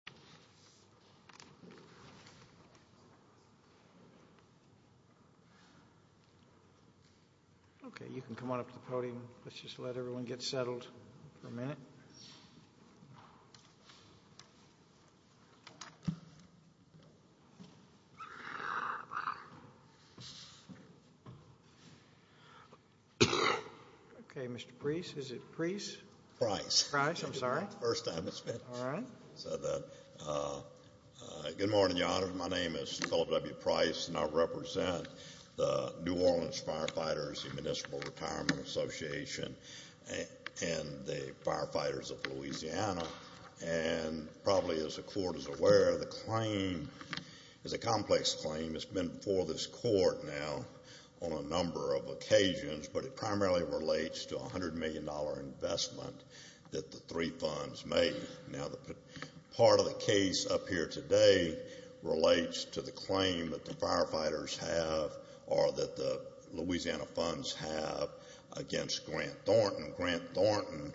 and the Federal Retirement System. Okay, you can come on up to the podium. Let's just let everyone get settled for a minute. Okay, Mr. Preece, is it Preece? Price. Price, I'm sorry. First time it's been. All right. Good morning, Your Honor. My name is Philip W. Price, and I represent the New Orleans Firefighters Municipal Retirement Association and the firefighters of Louisiana, and probably as the Court is aware, the claim is a complex claim. It's been before this Court now on a number of occasions, but it primarily relates to Now, part of the case up here today relates to the claim that the firefighters have or that the Louisiana funds have against Grant Thornton. Grant Thornton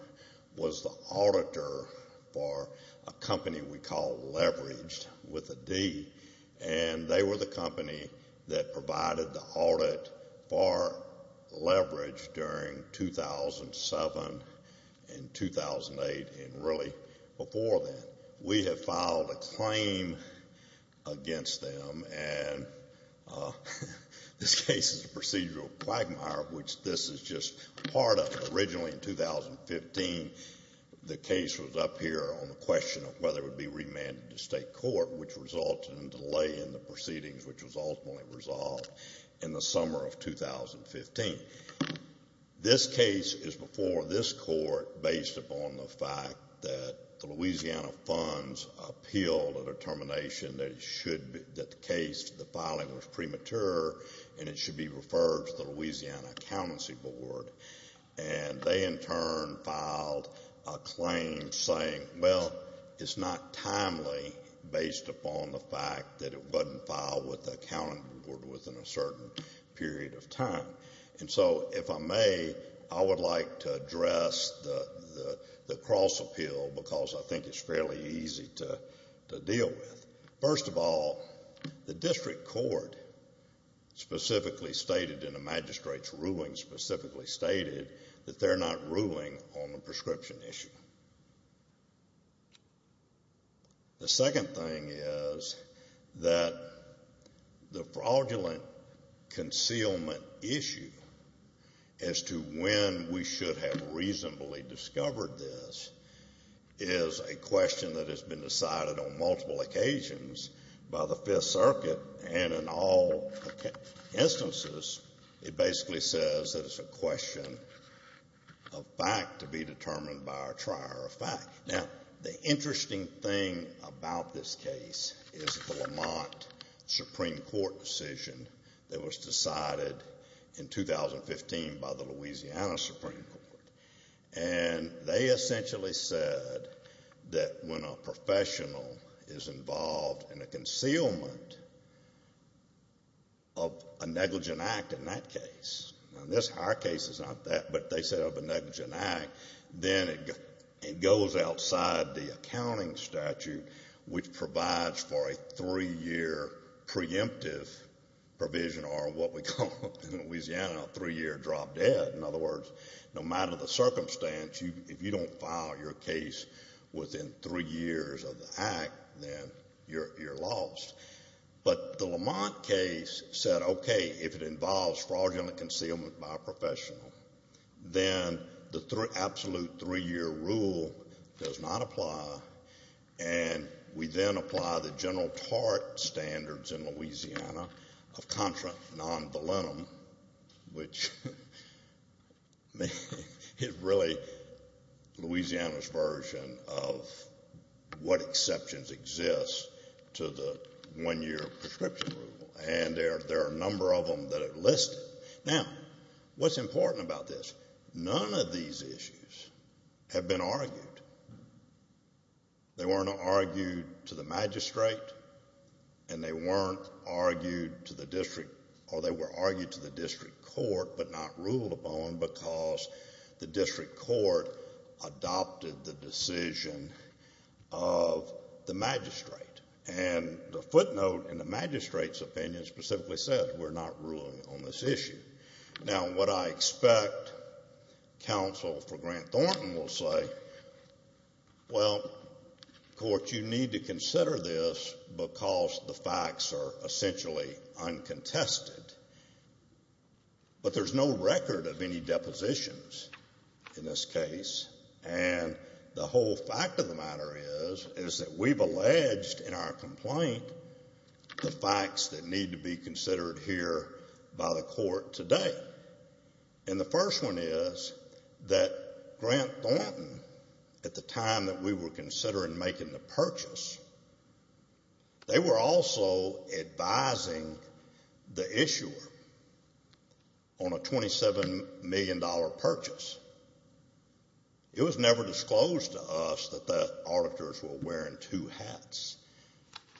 was the auditor for a company we call Leveraged, with a D, and they were the company that provided the audit for Leveraged during 2007 and 2008, and really before then. We have filed a claim against them, and this case is a procedural quagmire, which this is just part of. Originally in 2015, the case was up here on the question of whether it would be remanded to state court, which resulted in delay in the proceedings, which was ultimately resolved in the summer of 2015. This case is before this Court based upon the fact that the Louisiana funds appealed a determination that the case, the filing was premature and it should be referred to the Louisiana Accountancy Board, and they, in turn, filed a claim saying, well, it's not timely based upon the fact that it wasn't filed with the accounting board within a certain period of time. And so, if I may, I would like to address the cross-appeal because I think it's fairly easy to deal with. First of all, the district court specifically stated in the magistrate's ruling specifically stated that they're not ruling on the prescription issue. The second thing is that the fraudulent concealment issue as to when we should have reasonably discovered this is a question that has been decided on multiple occasions by the Fifth Amendment. It's not a question of fact to be determined by our trier of fact. Now, the interesting thing about this case is the Lamont Supreme Court decision that was decided in 2015 by the Louisiana Supreme Court. And they essentially said that when a professional is involved in a concealment of a negligent act in that case, and our case is not that, but they set up a negligent act, then it goes outside the accounting statute, which provides for a three-year preemptive provision or what we call in Louisiana a three-year drop dead. In other words, no matter the circumstance, if you don't file your case within three years of the act, then you're lost. But the Lamont case said, okay, if it involves fraudulent concealment by a professional, then the absolute three-year rule does not apply, and we then apply the general tort standards in Louisiana of contra non volunum, which is really Louisiana's version of what exemptions exist to the one-year prescription rule. And there are a number of them that are listed. Now, what's important about this, none of these issues have been argued. They weren't argued to the magistrate, and they weren't argued to the district, or they were argued to the district court, but not ruled upon because the district court adopted the decision of the magistrate. And the footnote in the magistrate's opinion specifically says we're not ruling on this issue. Now, what I expect counsel for Grant Thornton will say, well, court, you need to consider this because the facts are essentially uncontested, but there's no record of any depositions in this case, and the whole fact of the matter is, is that we've alleged in our complaint the facts that need to be considered here by the court today. And the first one is that Grant Thornton, at the time that we were considering making the purchase, they were also advising the issuer on a $27 million purchase. It was never disclosed to us that the auditors were wearing two hats,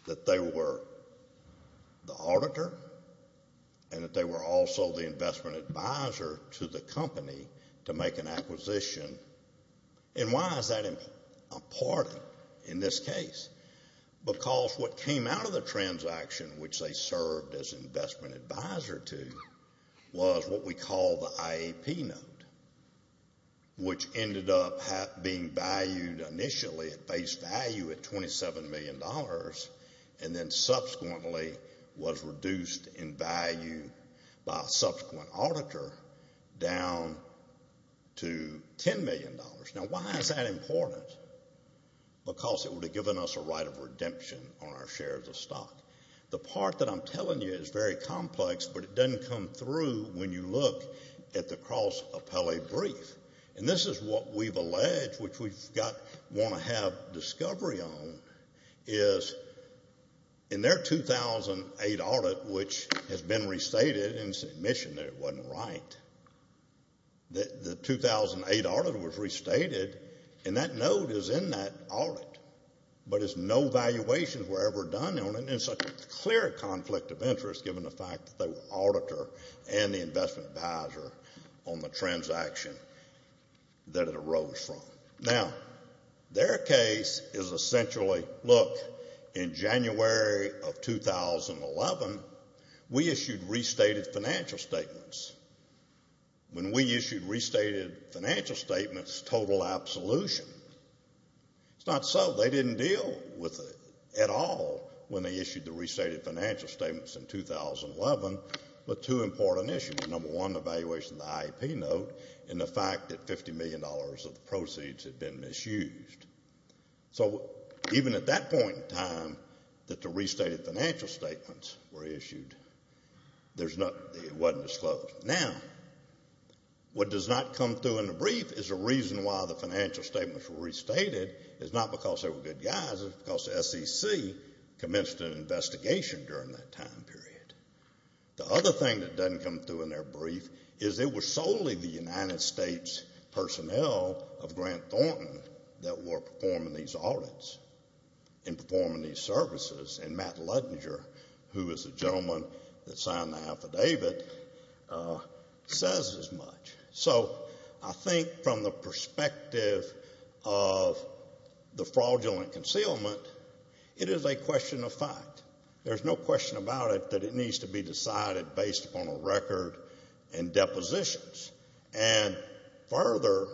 that they were the auditor and that they were also the investment advisor to the company to make an acquisition. And why is that important? A party, in this case, because what came out of the transaction which they served as investment advisor to was what we call the IAP note, which ended up being valued initially at face value at $27 million and then subsequently was reduced in value by a subsequent auditor down to $10 million. Now why is that important? Because it would have given us a right of redemption on our shares of stock. The part that I'm telling you is very complex, but it doesn't come through when you look at the cross appellate brief. And this is what we've alleged, which we want to have discovery on, is in their 2008 audit, which has been restated in submission that it wasn't right. The 2008 audit was restated, and that note is in that audit, but no valuations were ever done on it, and it's a clear conflict of interest given the fact that they were auditor and the investment advisor on the transaction that it arose from. Now, their case is essentially, look, in January of 2011, we issued restated financial statements. When we issued restated financial statements, total absolution. It's not so. They didn't deal with it at all when they issued the restated financial statements in 2011, but two important issues. Number one, evaluation of the IEP note, and the fact that $50 million of the proceeds had been misused. So even at that point in time that the restated financial statements were issued, it wasn't disclosed. Now, what does not come through in the brief is the reason why the financial statements were restated. It's not because they were good guys, it's because the SEC commenced an investigation during that time period. The other thing that doesn't come through in their brief is it was solely the United States personnel of Grant Thornton that were performing these audits and performing these services, and Matt Ludinger, who is the gentleman that signed the affidavit, says as much. So I think from the perspective of the fraudulent concealment, it is a question of fact. There's no question about it that it needs to be decided based upon a record and depositions. And further,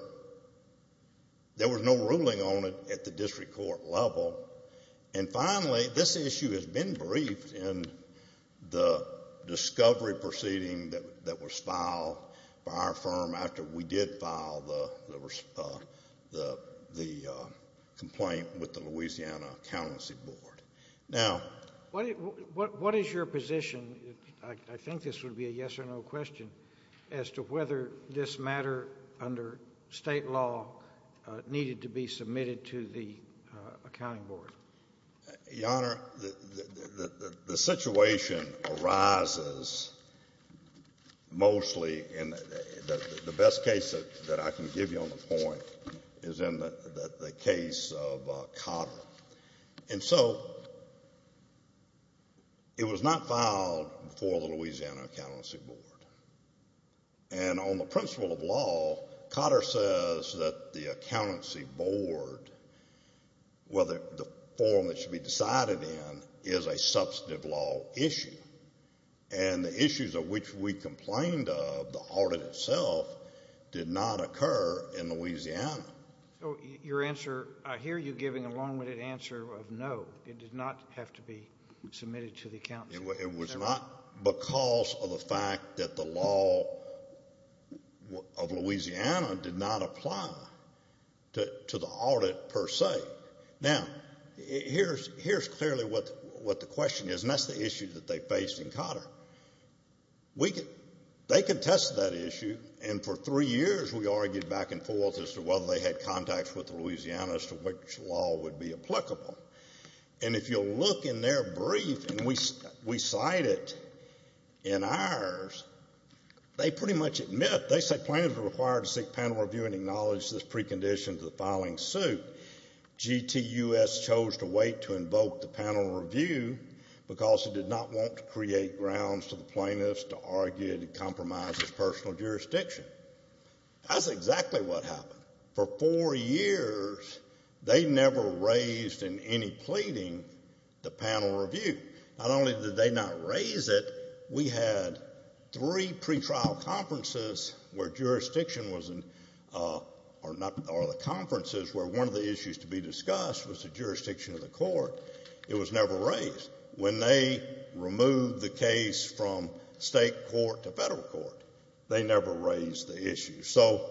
there was no ruling on it at the district court level. And finally, this issue has been briefed in the discovery proceeding that was filed by our firm after we did file the complaint with the Louisiana Accountancy Board. Now, What is your position, I think this would be a yes or no question, as to whether this matter under State law needed to be submitted to the Accounting Board? Your Honor, the situation arises mostly in the best case that I can give you on the point is in the case of Cotter. And so, it was not filed before the Louisiana Accountancy Board. And on the principle of law, Cotter says that the Accountancy Board, whether the form that should be decided in, is a substantive law issue. And the issues of which we complained of, the audit itself, did not occur in Louisiana. So, your answer, I hear you giving a long-winded answer of no, it did not have to be submitted to the Accountancy Board. It was not because of the fact that the law of Louisiana did not apply to the audit per se. Now, here's clearly what the question is, and that's the issue that they faced in Cotter. They contested that issue, and for three years we argued back and forth as to whether they had contacts with Louisiana as to which law would be applicable. And if you look in their brief, and we cite it in ours, they pretty much admit, they say plaintiffs are required to seek panel review and acknowledge this precondition to the filing suit. GTUS chose to wait to invoke the panel review because it did not want to create grounds to the plaintiffs to argue to compromise its personal jurisdiction. That's exactly what happened. For four years, they never raised in any pleading the panel review. Not only did they not raise it, we had three pretrial conferences where jurisdiction was in, or not, or the conferences where one of the issues to be discussed was the jurisdiction of the court. It was never raised. When they removed the case from state court to federal court, they never raised the issue. So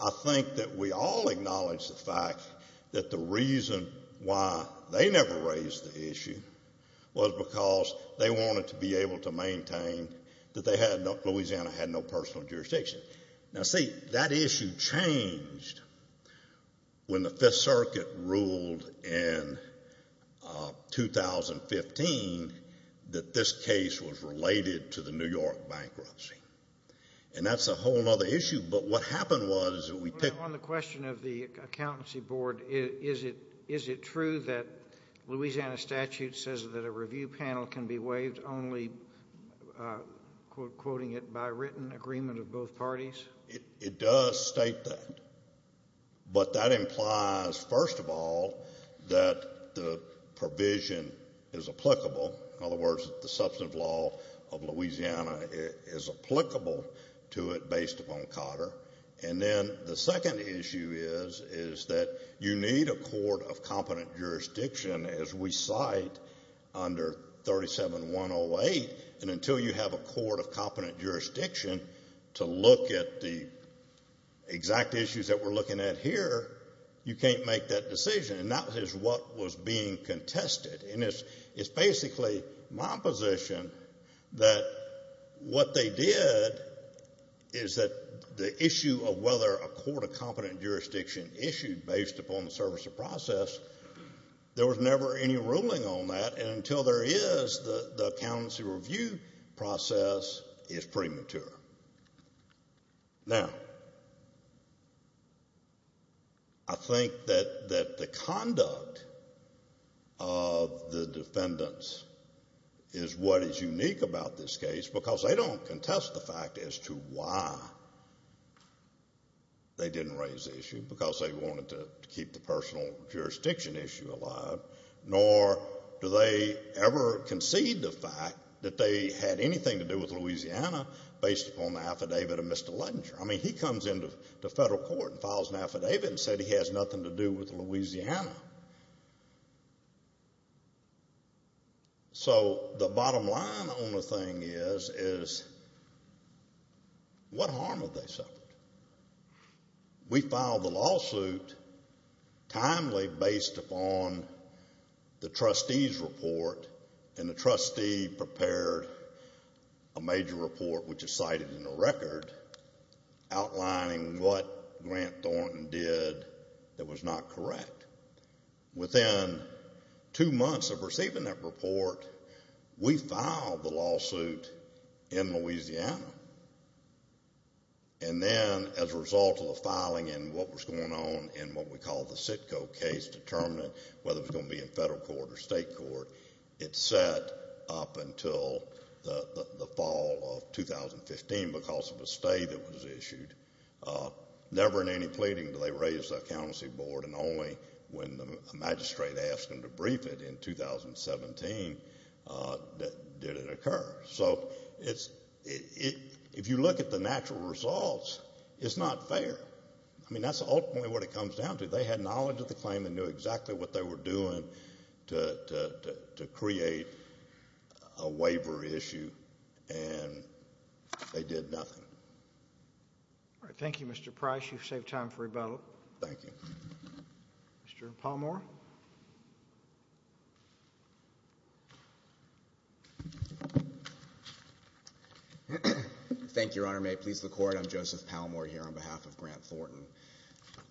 I think that we all acknowledge the fact that the reason why they never raised the issue was because they wanted to be able to maintain that they had no, Louisiana had no personal jurisdiction. Now, see, that issue changed when the Fifth Circuit ruled in 2015 that this case was related to the New York bankruptcy. And that's a whole other issue. But what happened was that we picked... On the question of the accountancy board, is it true that Louisiana statute says that the review panel can be waived only, quoting it, by written agreement of both parties? It does state that. But that implies, first of all, that the provision is applicable. In other words, the substantive law of Louisiana is applicable to it based upon COTR. And then the second issue is, is that you need a court of competent jurisdiction, as we cite under 37-108, and until you have a court of competent jurisdiction to look at the exact issues that we're looking at here, you can't make that decision. And that is what was being contested. And it's basically my position that what they did is that the issue of whether a court of competent jurisdiction can be waived or not, they didn't raise the issue because they wanted to keep the personal jurisdiction issue alive, nor do they ever concede the fact that they had anything to do with Louisiana based upon the affidavit of Mr. Luttinger. I mean, he comes into the federal court and files an affidavit and said he has nothing to do with Louisiana. So the bottom line on the thing is, is what harm have they suffered? We filed the lawsuit timely based upon the trustee's report, and the trustee prepared a major report, which is cited in the record, outlining what Grant Thornton did that was not correct. Within two months of receiving that report, we filed the lawsuit in Louisiana. And then, as a result of the filing and what was going on in what we call the CITCO case to determine whether it was going to be in federal court or state court, it sat up until the fall of 2015 because of a stay that was issued. Never in any pleading do they raise the accountancy board, and only when the magistrate asked them to brief it in 2017 did it occur. So if you look at the natural results, it's not fair. I mean, that's ultimately what it comes down to. They had knowledge of the claim and knew exactly what they were doing to create a waiver issue, and they did nothing. All right. Thank you, Mr. Price. You've saved time for rebuttal. Thank you. Mr. Palmore. Thank you, Your Honor. May it please the Court. I'm Joseph Palmore here on behalf of Grant Thornton.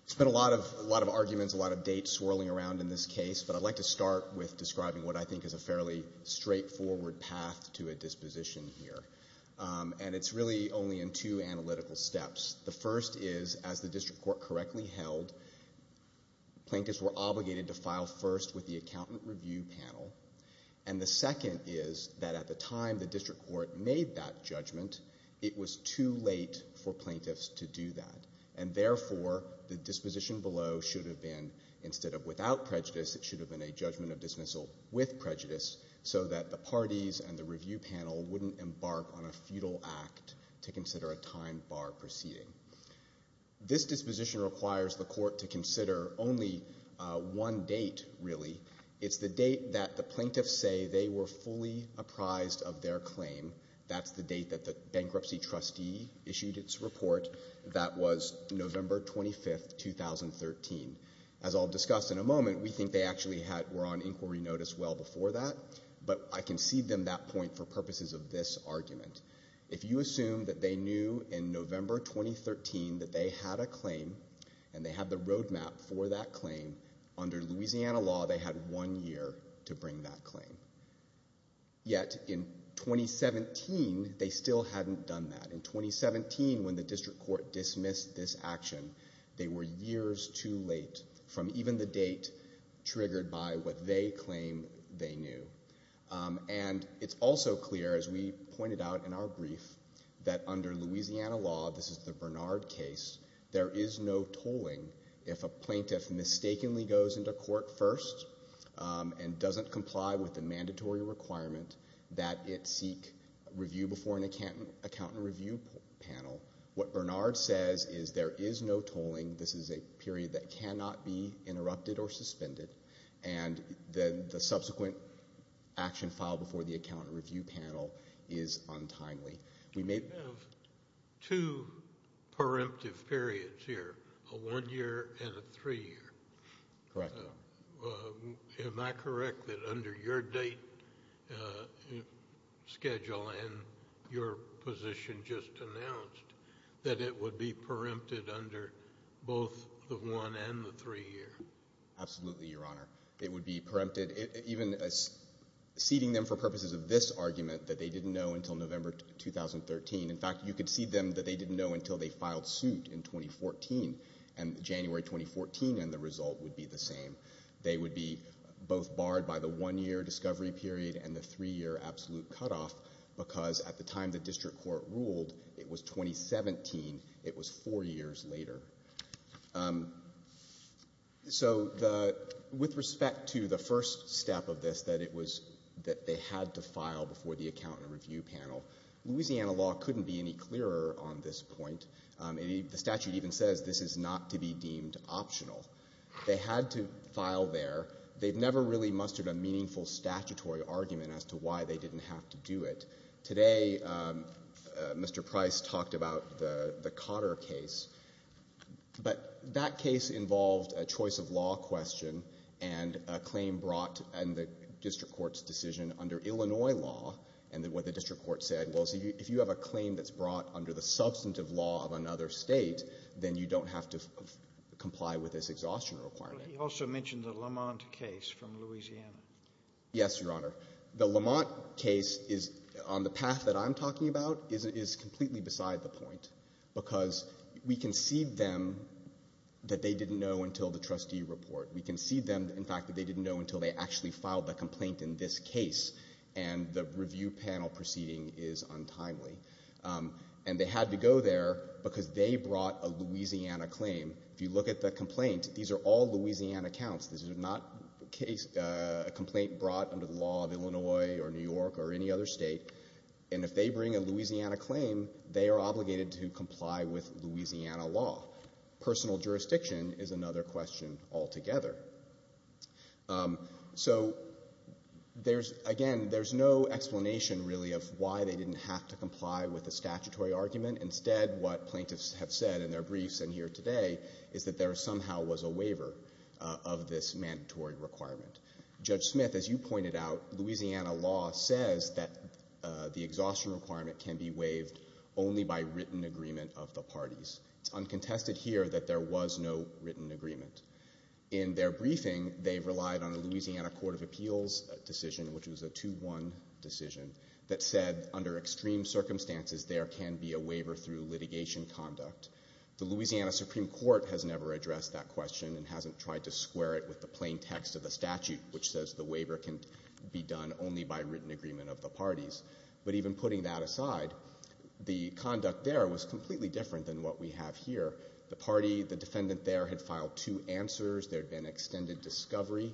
There's been a lot of arguments, a lot of dates swirling around in this case, but I'd like to start with describing what I think is a fairly straightforward path to a disposition here. And it's really only in two analytical steps. The first is, as the district court correctly held, plaintiffs were obligated to file first with the accountant review panel. And the second is that at the time the district court made that judgment, it was too late for plaintiffs to do that. And therefore, the disposition below should have been, instead of without prejudice, it should have been a judgment of dismissal with prejudice so that the parties and the review panel wouldn't embark on a futile act to consider a time bar proceeding. This disposition requires the court to consider only one date, really. It's the date that the plaintiffs say they were fully apprised of their claim. That's the date that the bankruptcy trustee issued its report. That was November 25, 2013. As I'll discuss in a moment, we think they actually were on inquiry notice well before that. But I concede them that point for purposes of this argument. If you assume that they knew in November 2013 that they had a claim and they had the road map for that claim, under Louisiana law, they had one year to bring that claim. Yet in 2017, they still hadn't done that. In 2017, when the district court dismissed this action, they were years too late from even the date triggered by what they claim they knew. And it's also clear, as we pointed out in our brief, that under Louisiana law, this is the Bernard case, there is no tolling if a plaintiff mistakenly goes into court first and doesn't comply with the mandatory requirement that it seek review before an accountant review panel. What Bernard says is there is no tolling. This is a period that cannot be interrupted or suspended. And then the subsequent action filed before the accountant review panel is untimely. We may have two preemptive periods here, a one year and a three year. Correct. Am I correct that under your date schedule and your position just announced that it would be preempted under both the one and the three year? Absolutely, Your Honor. It would be preempted, even ceding them for purposes of this argument that they didn't know until November 2013. In fact, you could cede them that they didn't know until they filed suit in 2014. And January 2014, and the result would be the same. They would be both barred by the one year discovery period and the three year absolute cutoff because at the time the district court ruled, it was 2017. It was four years later. So with respect to the first step of this, that it was that they had to file before the accountant review panel, Louisiana law couldn't be any clearer on this point. The statute even says this is not to be deemed optional. They had to file there. They've never really mustered a meaningful statutory argument as to why they didn't have to do it. Today, Mr. Price talked about the Cotter case, but that case involved a choice of law question and a claim brought in the district court's decision under Illinois law. And what the district court said was if you have a claim that's brought under the substantive law of another state, then you don't have to comply with this exhaustion requirement. But he also mentioned the Lamont case from Louisiana. Yes, Your Honor. The Lamont case is on the path that I'm talking about is completely beside the point because we concede them that they didn't know until the trustee report. We concede them, in fact, that they didn't know until they actually filed the complaint in this case. And the review panel proceeding is untimely. And they had to go there because they brought a Louisiana claim. If you look at the complaint, these are all Louisiana counts. This is not a complaint brought under the law of Illinois or New York or any other state. And if they bring a Louisiana claim, they are obligated to comply with Louisiana law. Personal jurisdiction is another question altogether. So again, there's no explanation really of why they didn't have to comply with the statutory argument. Instead, what plaintiffs have said in their briefs and here today is that there somehow was a waiver of this mandatory requirement. Judge Smith, as you pointed out, Louisiana law says that the exhaustion requirement can be waived only by written agreement of the parties. It's uncontested here that there was no written agreement. In their briefing, they've relied on a Louisiana Court of Appeals decision, which was a 2-1 decision, that said under extreme circumstances, there can be a waiver through litigation conduct. The Louisiana Supreme Court has never addressed that question and hasn't tried to square it with the plain text of the statute, which says the waiver can be done only by written agreement of the parties. But even putting that aside, the conduct there was completely different than what we have here. The party, the defendant there had filed two answers, there had been extended discovery.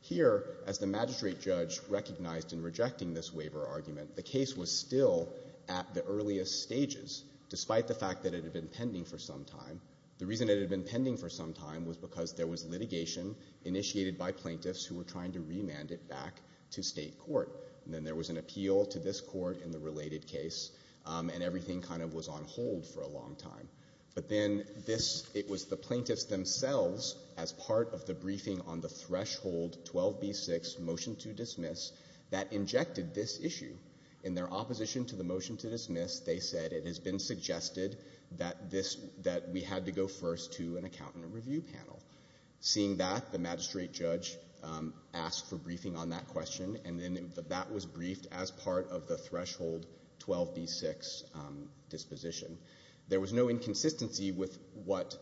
Here, as the magistrate judge recognized in rejecting this waiver argument, the case was still at the earliest stages, despite the fact that it had been pending for some time. The reason it had been pending for some time was because there was litigation initiated by plaintiffs who were trying to remand it back to State court. And then there was an appeal to this court in the related case, and everything kind of was on hold for a long time. But then this, it was the plaintiffs themselves, as part of the briefing on the threshold 12b-6 motion to dismiss, that injected this issue. In their opposition to the motion to dismiss, they said it has been suggested that this, that we had to go first to an accountant review panel. Seeing that, the magistrate judge asked for briefing on that question, and then that was briefed as part of the threshold 12b-6 disposition. There was no inconsistency with what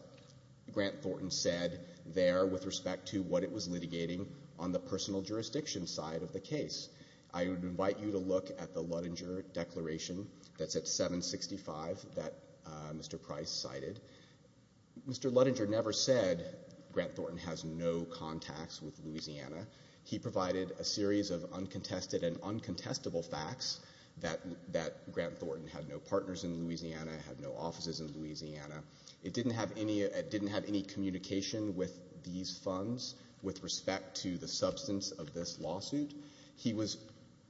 Grant Thornton said there with respect to what it was litigating on the personal jurisdiction side of the case. I would invite you to look at the Ludinger Declaration that's at 765 that Mr. Price cited. Mr. Ludinger never said Grant Thornton has no contacts with Louisiana. He provided a series of uncontested and uncontestable facts that, that Grant Thornton had no partners in Louisiana, had no offices in Louisiana. It didn't have any, it didn't have any communication with these funds with respect to the substance of this lawsuit. He was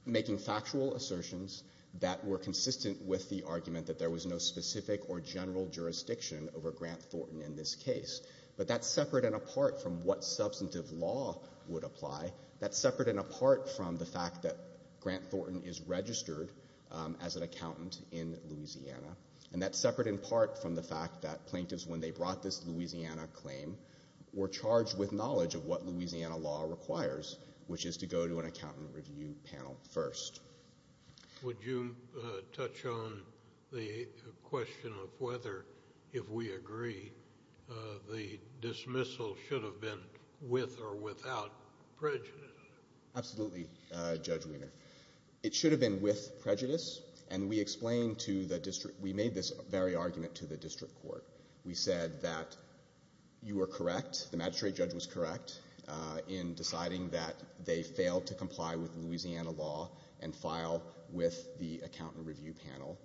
making factual assertions that were consistent with the argument that there was no specific or general jurisdiction over Grant Thornton in this case, but that's separate and apart from what substantive law would apply. That's separate and apart from the fact that Grant Thornton is registered as an accountant in Louisiana. And that's separate in part from the fact that plaintiffs, when they brought this Louisiana claim, were charged with knowledge of what Louisiana law requires, which is to go to an accountant review panel first. Would you touch on the question of whether, if we agree, the dismissal should have been with or with prejudice? Absolutely, Judge Wiener. It should have been with prejudice. And we explained to the district, we made this very argument to the district court. We said that you were correct, the magistrate judge was correct in deciding that they failed to comply with Louisiana law and file with the accountant review panel,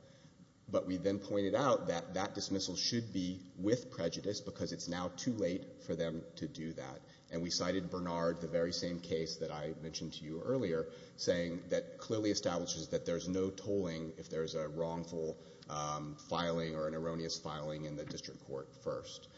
but we then pointed out that that dismissal should be with prejudice because it's now too late for them to do that. And we cited Bernard, the very same case that I mentioned to you earlier, saying that clearly establishes that there's no tolling if there's a wrongful filing or an erroneous filing in the district court first.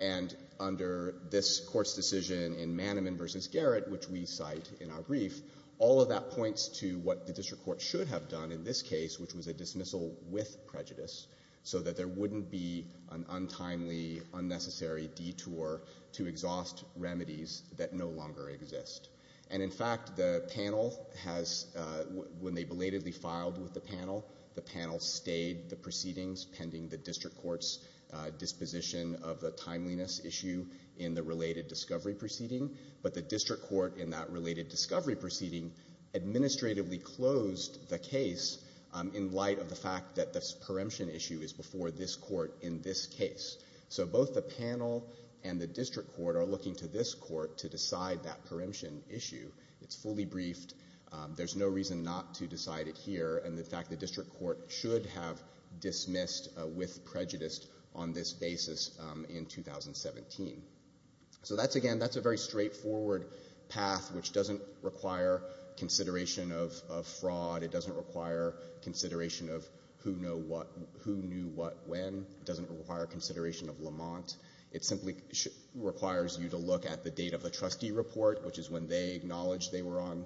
And under this court's decision in Manneman versus Garrett, which we cite in our brief, all of that points to what the district court should have done in this case, which was a dismissal with prejudice, so that there wouldn't be an untimely, unnecessary detour to exhaust remedies that no longer exist. And in fact, the panel has, when they belatedly filed with the panel, the panel stayed the proceedings pending the district court's disposition of the timeliness issue in the related discovery proceeding. But the district court in that related discovery proceeding administratively closed the case in light of the fact that this So both the panel and the district court are looking to this court to decide that preemption issue, it's fully briefed, there's no reason not to decide it here. And in fact, the district court should have dismissed with prejudice on this basis in 2017. So that's again, that's a very straightforward path, which doesn't require consideration of fraud. It doesn't require consideration of who knew what when. It doesn't require consideration of Lamont. It simply requires you to look at the date of the trustee report, which is when they acknowledge they were on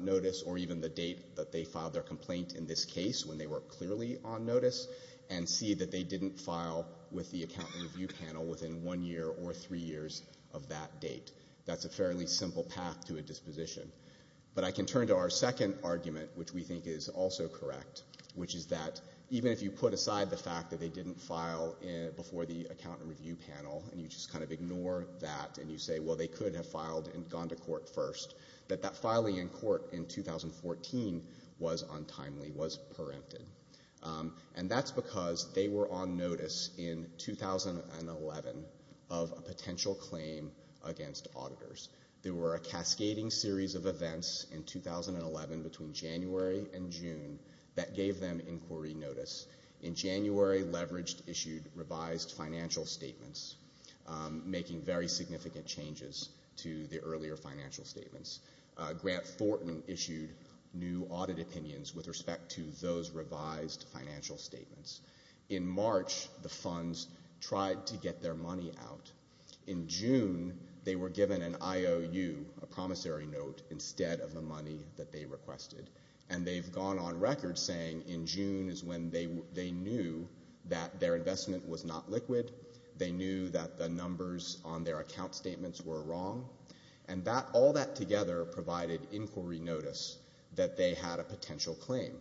notice, or even the date that they filed their complaint in this case, when they were clearly on notice. And see that they didn't file with the account review panel within one year or three years of that date. That's a fairly simple path to a disposition. But I can turn to our second argument, which we think is also correct, which is that even if you put aside the fact that they didn't file before the account review panel, and you just kind of ignore that, and you say, well, they could have filed and gone to court first, that that filing in court in 2014 was untimely, was preempted. And that's because they were on notice in 2011 of a potential claim against auditors. There were a cascading series of events in 2011 between January and I gave them inquiry notice. In January, Leveraged issued revised financial statements, making very significant changes to the earlier financial statements. Grant Thornton issued new audit opinions with respect to those revised financial statements. In March, the funds tried to get their money out. In June, they were given an IOU, a promissory note, instead of the money that they requested. And they've gone on record saying in June is when they knew that their investment was not liquid. They knew that the numbers on their account statements were wrong. And all that together provided inquiry notice that they had a potential claim.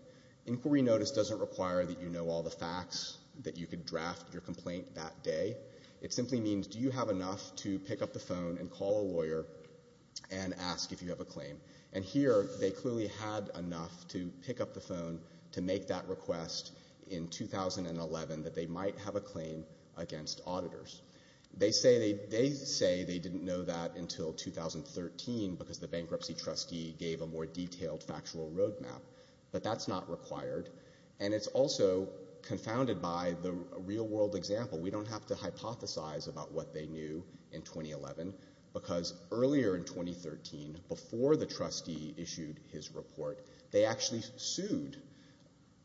Inquiry notice doesn't require that you know all the facts that you could draft your complaint that day. It simply means, do you have enough to pick up the phone and call a lawyer and ask if you have a claim? And here, they clearly had enough to pick up the phone to make that request in 2011 that they might have a claim against auditors. They say they didn't know that until 2013 because the bankruptcy trustee gave a more detailed factual road map. But that's not required. And it's also confounded by the real world example. We don't have to hypothesize about what they knew in 2011. Because earlier in 2013, before the trustee issued his report, they actually sued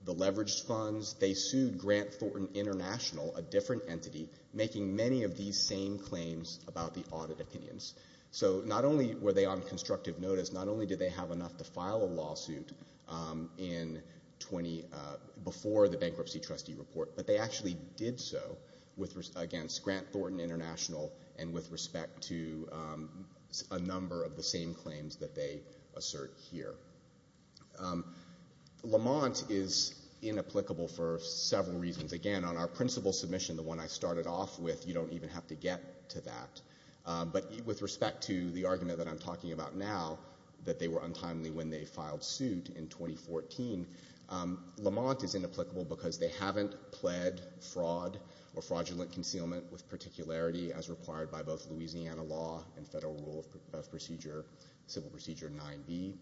the leveraged funds. They sued Grant Thornton International, a different entity, making many of these same claims about the audit opinions. So not only were they on constructive notice, not only did they have enough to file a lawsuit before the bankruptcy trustee report, but they actually did so against Grant Thornton International and with respect to a number of the same claims that they assert here. Lamont is inapplicable for several reasons. Again, on our principal submission, the one I started off with, you don't even have to get to that. But with respect to the argument that I'm talking about now, that they were untimely when they filed suit in 2014, Lamont is inapplicable because they haven't pled fraud or fraudulent concealment with particularity as required by both Louisiana law and federal rule of procedure, civil procedure 9B.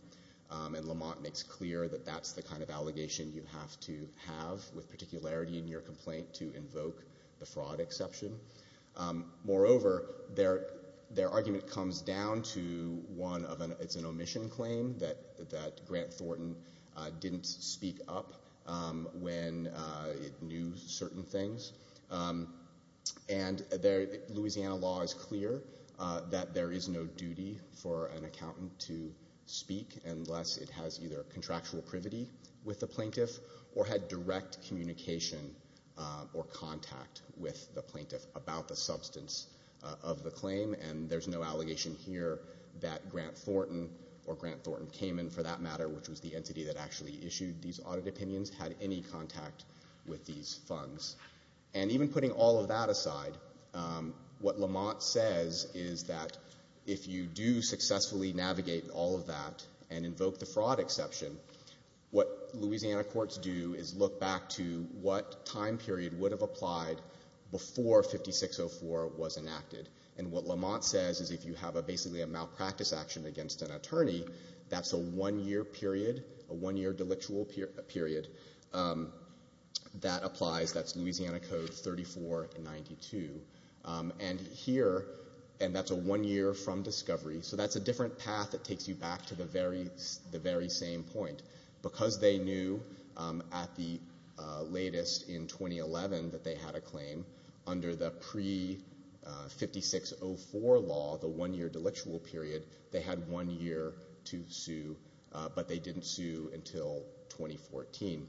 And Lamont makes clear that that's the kind of allegation you have to have with particularity in your complaint to invoke the fraud exception. Moreover, their argument comes down to one of an, it's an omission claim that Grant Thornton didn't speak up when it knew certain things. And Louisiana law is clear that there is no duty for an accountant to speak unless it has either contractual privity with the plaintiff or had direct communication or contact with the plaintiff. About the substance of the claim, and there's no allegation here that Grant Thornton, or Grant Thornton Kamen for that matter, which was the entity that actually issued these audit opinions, had any contact with these funds. And even putting all of that aside, what Lamont says is that if you do successfully navigate all of that and invoke the fraud exception, what Louisiana courts do is look back to what time period would have applied before 5604 was enacted. And what Lamont says is if you have basically a malpractice action against an attorney, that's a one year period, a one year delictual period that applies, that's Louisiana Code 3492. And here, and that's a one year from discovery. So that's a different path that takes you back to the very same point. Because they knew at the latest in 2011 that they had a claim, under the pre-5604 law, the one year delictual period, they had one year to sue, but they didn't sue until 2014.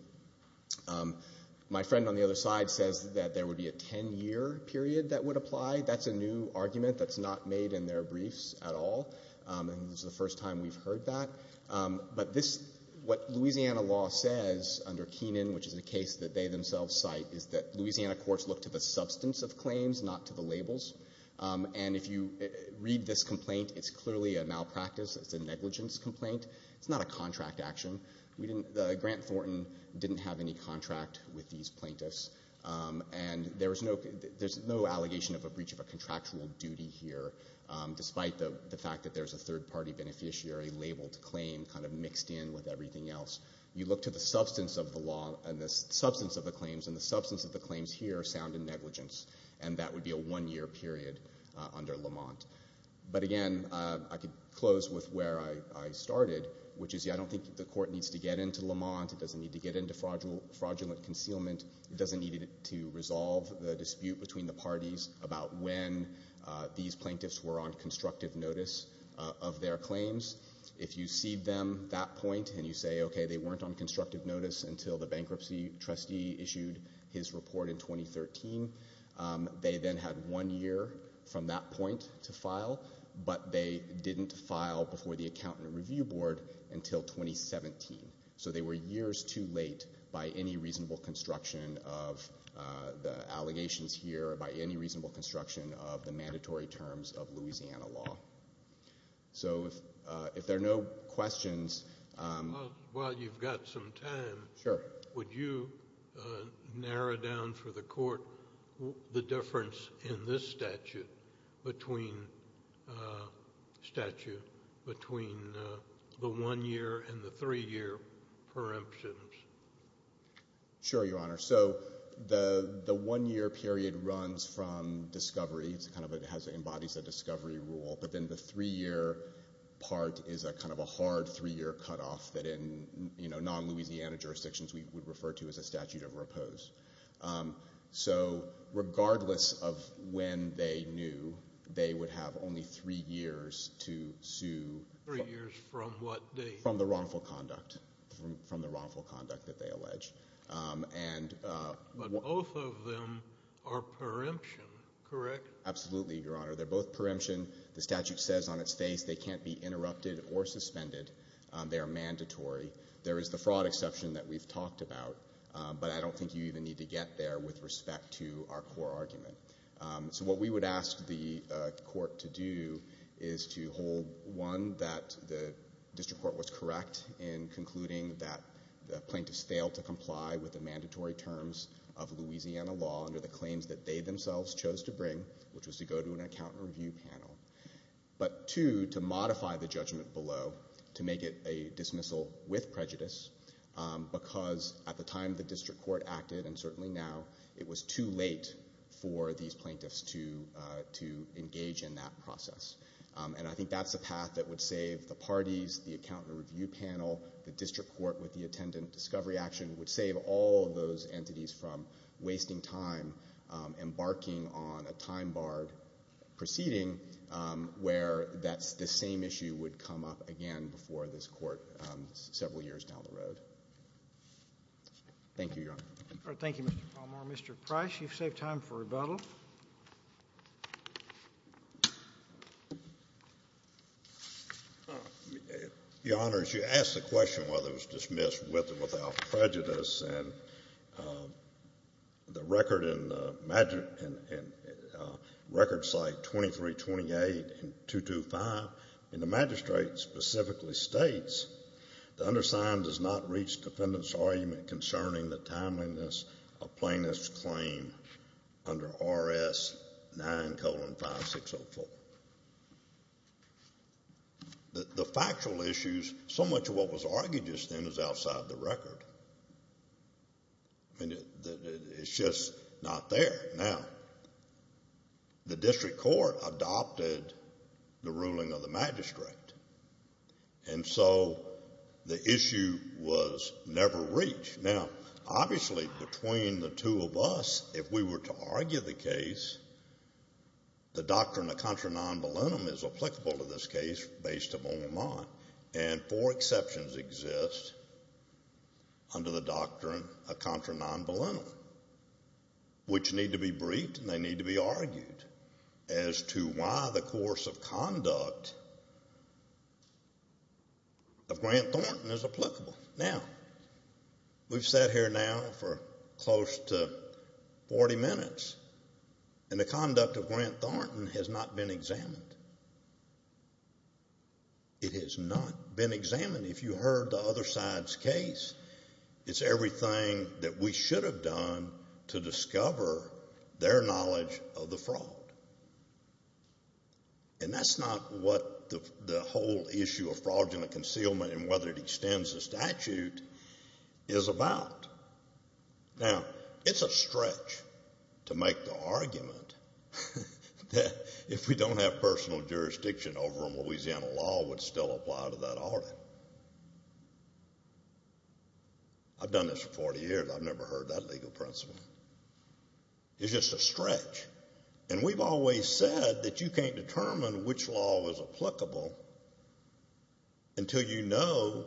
My friend on the other side says that there would be a 10 year period that would apply. That's a new argument that's not made in their briefs at all. And this is the first time we've heard that. But this, what Louisiana law says under Keenan, which is a case that they themselves cite, is that Louisiana courts look to the substance of claims, not to the labels. And if you read this complaint, it's clearly a malpractice, it's a negligence complaint. It's not a contract action. We didn't, Grant Thornton didn't have any contract with these plaintiffs. And there's no allegation of a breach of a contractual duty here, despite the fact that there's a third party beneficiary labeled claim, kind of mixed in with everything else. You look to the substance of the law and the substance of the claims, and the substance of the claims here are sound in negligence. And that would be a one year period under Lamont. But again, I could close with where I started, which is I don't think the court needs to get into Lamont. It doesn't need to get into fraudulent concealment. It doesn't need to resolve the dispute between the parties about when these plaintiffs were on constructive notice of their claims. If you see them that point, and you say, okay, they weren't on constructive notice until the bankruptcy trustee issued his report in 2013. They then had one year from that point to file, but they didn't file before the accountant review board until 2017. So they were years too late by any reasonable construction of the allegations here, by any reasonable construction of the mandatory terms of Louisiana law. So if there are no questions- Well, you've got some time. Sure. Would you narrow down for the court the difference in this statute between the one year and the three year preemptions? Sure, your honor. So the one year period runs from discovery, it kind of embodies a discovery rule. But then the three year part is a kind of a hard three year cut off that in non-Louisiana jurisdictions we would refer to as a statute of repose. So regardless of when they knew, they would have only three years to sue- Three years from what date? From the wrongful conduct, from the wrongful conduct that they allege. But both of them are preemption, correct? Absolutely, your honor. They're both preemption. The statute says on its face they can't be interrupted or suspended. They are mandatory. There is the fraud exception that we've talked about. But I don't think you even need to get there with respect to our core argument. So what we would ask the court to do is to hold, one, that the district court was correct in concluding that the plaintiffs failed to comply with the mandatory terms of Louisiana law under the claims that they themselves chose to bring, which was to go to an accountant review panel. But two, to modify the judgment below to make it a dismissal with prejudice. Because at the time the district court acted, and certainly now, it was too late for these plaintiffs to engage in that process. And I think that's a path that would save the parties, the accountant review panel, the district court with the attendant discovery action, would save all of those entities from wasting time embarking on a time barred proceeding where that's the same issue would come up again before this court several years down the road. Thank you, Your Honor. All right, thank you, Mr. Palmore. Mr. Price, you've saved time for rebuttal. Your Honor, as you asked the question whether it was dismissed with or without prejudice, and the record in the record cite 2328 and 225, and the magistrate specifically states, the undersigned does not reach defendant's argument concerning the timeliness of plaintiff's claim under RS 9 colon 5604. The factual issues, so much of what was argued just then is outside the record. I mean, it's just not there. Now, the district court adopted the ruling of the magistrate. And so the issue was never reached. Now, obviously, between the two of us, if we were to argue the case, the doctrine of contra non voluntum is applicable to this case based upon Vermont. And four exceptions exist under the doctrine of contra non voluntum, which need to be briefed and they need to be argued as to why the course of conduct of Grant Thornton is applicable. Now, we've sat here now for close to 40 minutes, and the conduct of Grant Thornton has not been examined. It has not been examined. If you heard the other side's case, it's everything that we should have done to discover their knowledge of the fraud. And that's not what the whole issue of fraudulent concealment and whether it extends the statute is about. Now, it's a stretch to make the argument that if we don't have personal jurisdiction over a Louisiana law, it would still apply to that audit. I've done this for 40 years. I've never heard that legal principle. It's just a stretch. And we've always said that you can't determine which law is applicable until you know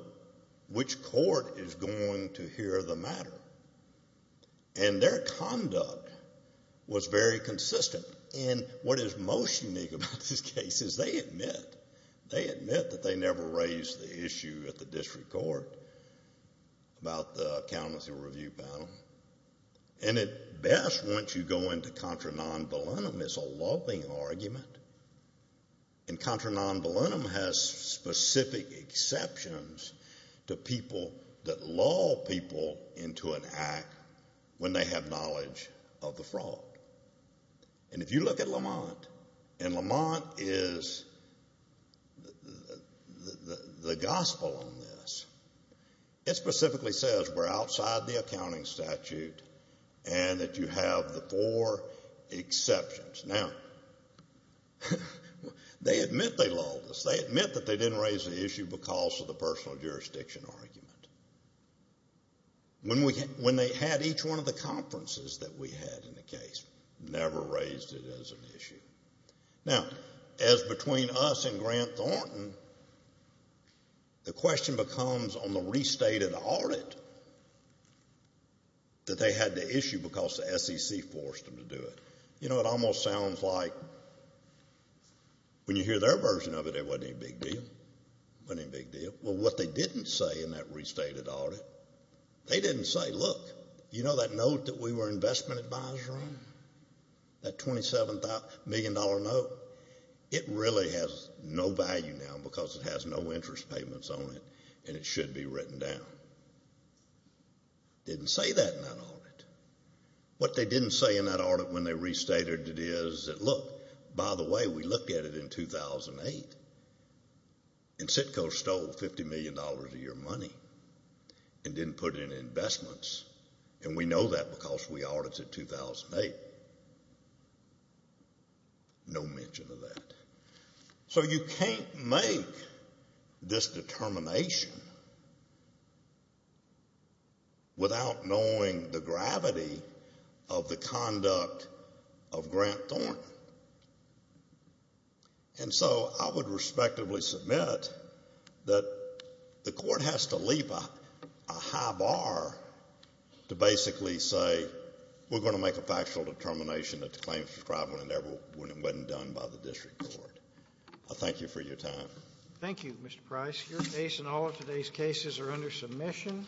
which court is going to hear the matter. And their conduct was very consistent. And what is most unique about this case is they admit, they admit that they never raised the issue at the district court about the accountancy review panel. And at best, once you go into contra non volunum, it's a loving argument. And contra non volunum has specific exceptions to people that lull people into an act when they have knowledge of the fraud. And if you look at Lamont, and Lamont is the gospel on this, it specifically says we're outside the accounting statute and that you have the four exceptions. Now, they admit they lulled us. They admit that they didn't raise the issue because of the personal jurisdiction argument. When they had each one of the conferences that we had in the case, never raised it as an issue. Now, as between us and Grant Thornton, the question becomes on the restated audit that they had to issue because the SEC forced them to do it. You know, it almost sounds like when you hear their version of it, it wasn't a big deal. Wasn't a big deal. Well, what they didn't say in that restated audit, they didn't say, look, you know that note that we were investment advisor on? That $27 million note, it really has no value now because it has no interest payments on it and it should be written down. Didn't say that in that audit. What they didn't say in that audit when they restated it is that, look, by the way, we looked at it in 2008. And SITCO stole $50 million of your money and didn't put in investments. And we know that because we audited 2008. No mention of that. So you can't make this determination without knowing the gravity of the conduct of Grant Thornton. And so I would respectively submit that the court has to leave a high bar to basically say, we're going to make a factual determination that the claims were described when it wasn't done by the district court. I thank you for your time. Thank you, Mr. Price. Your case and all of today's cases are under submission.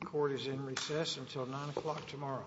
The court is in recess until 9 o'clock tomorrow.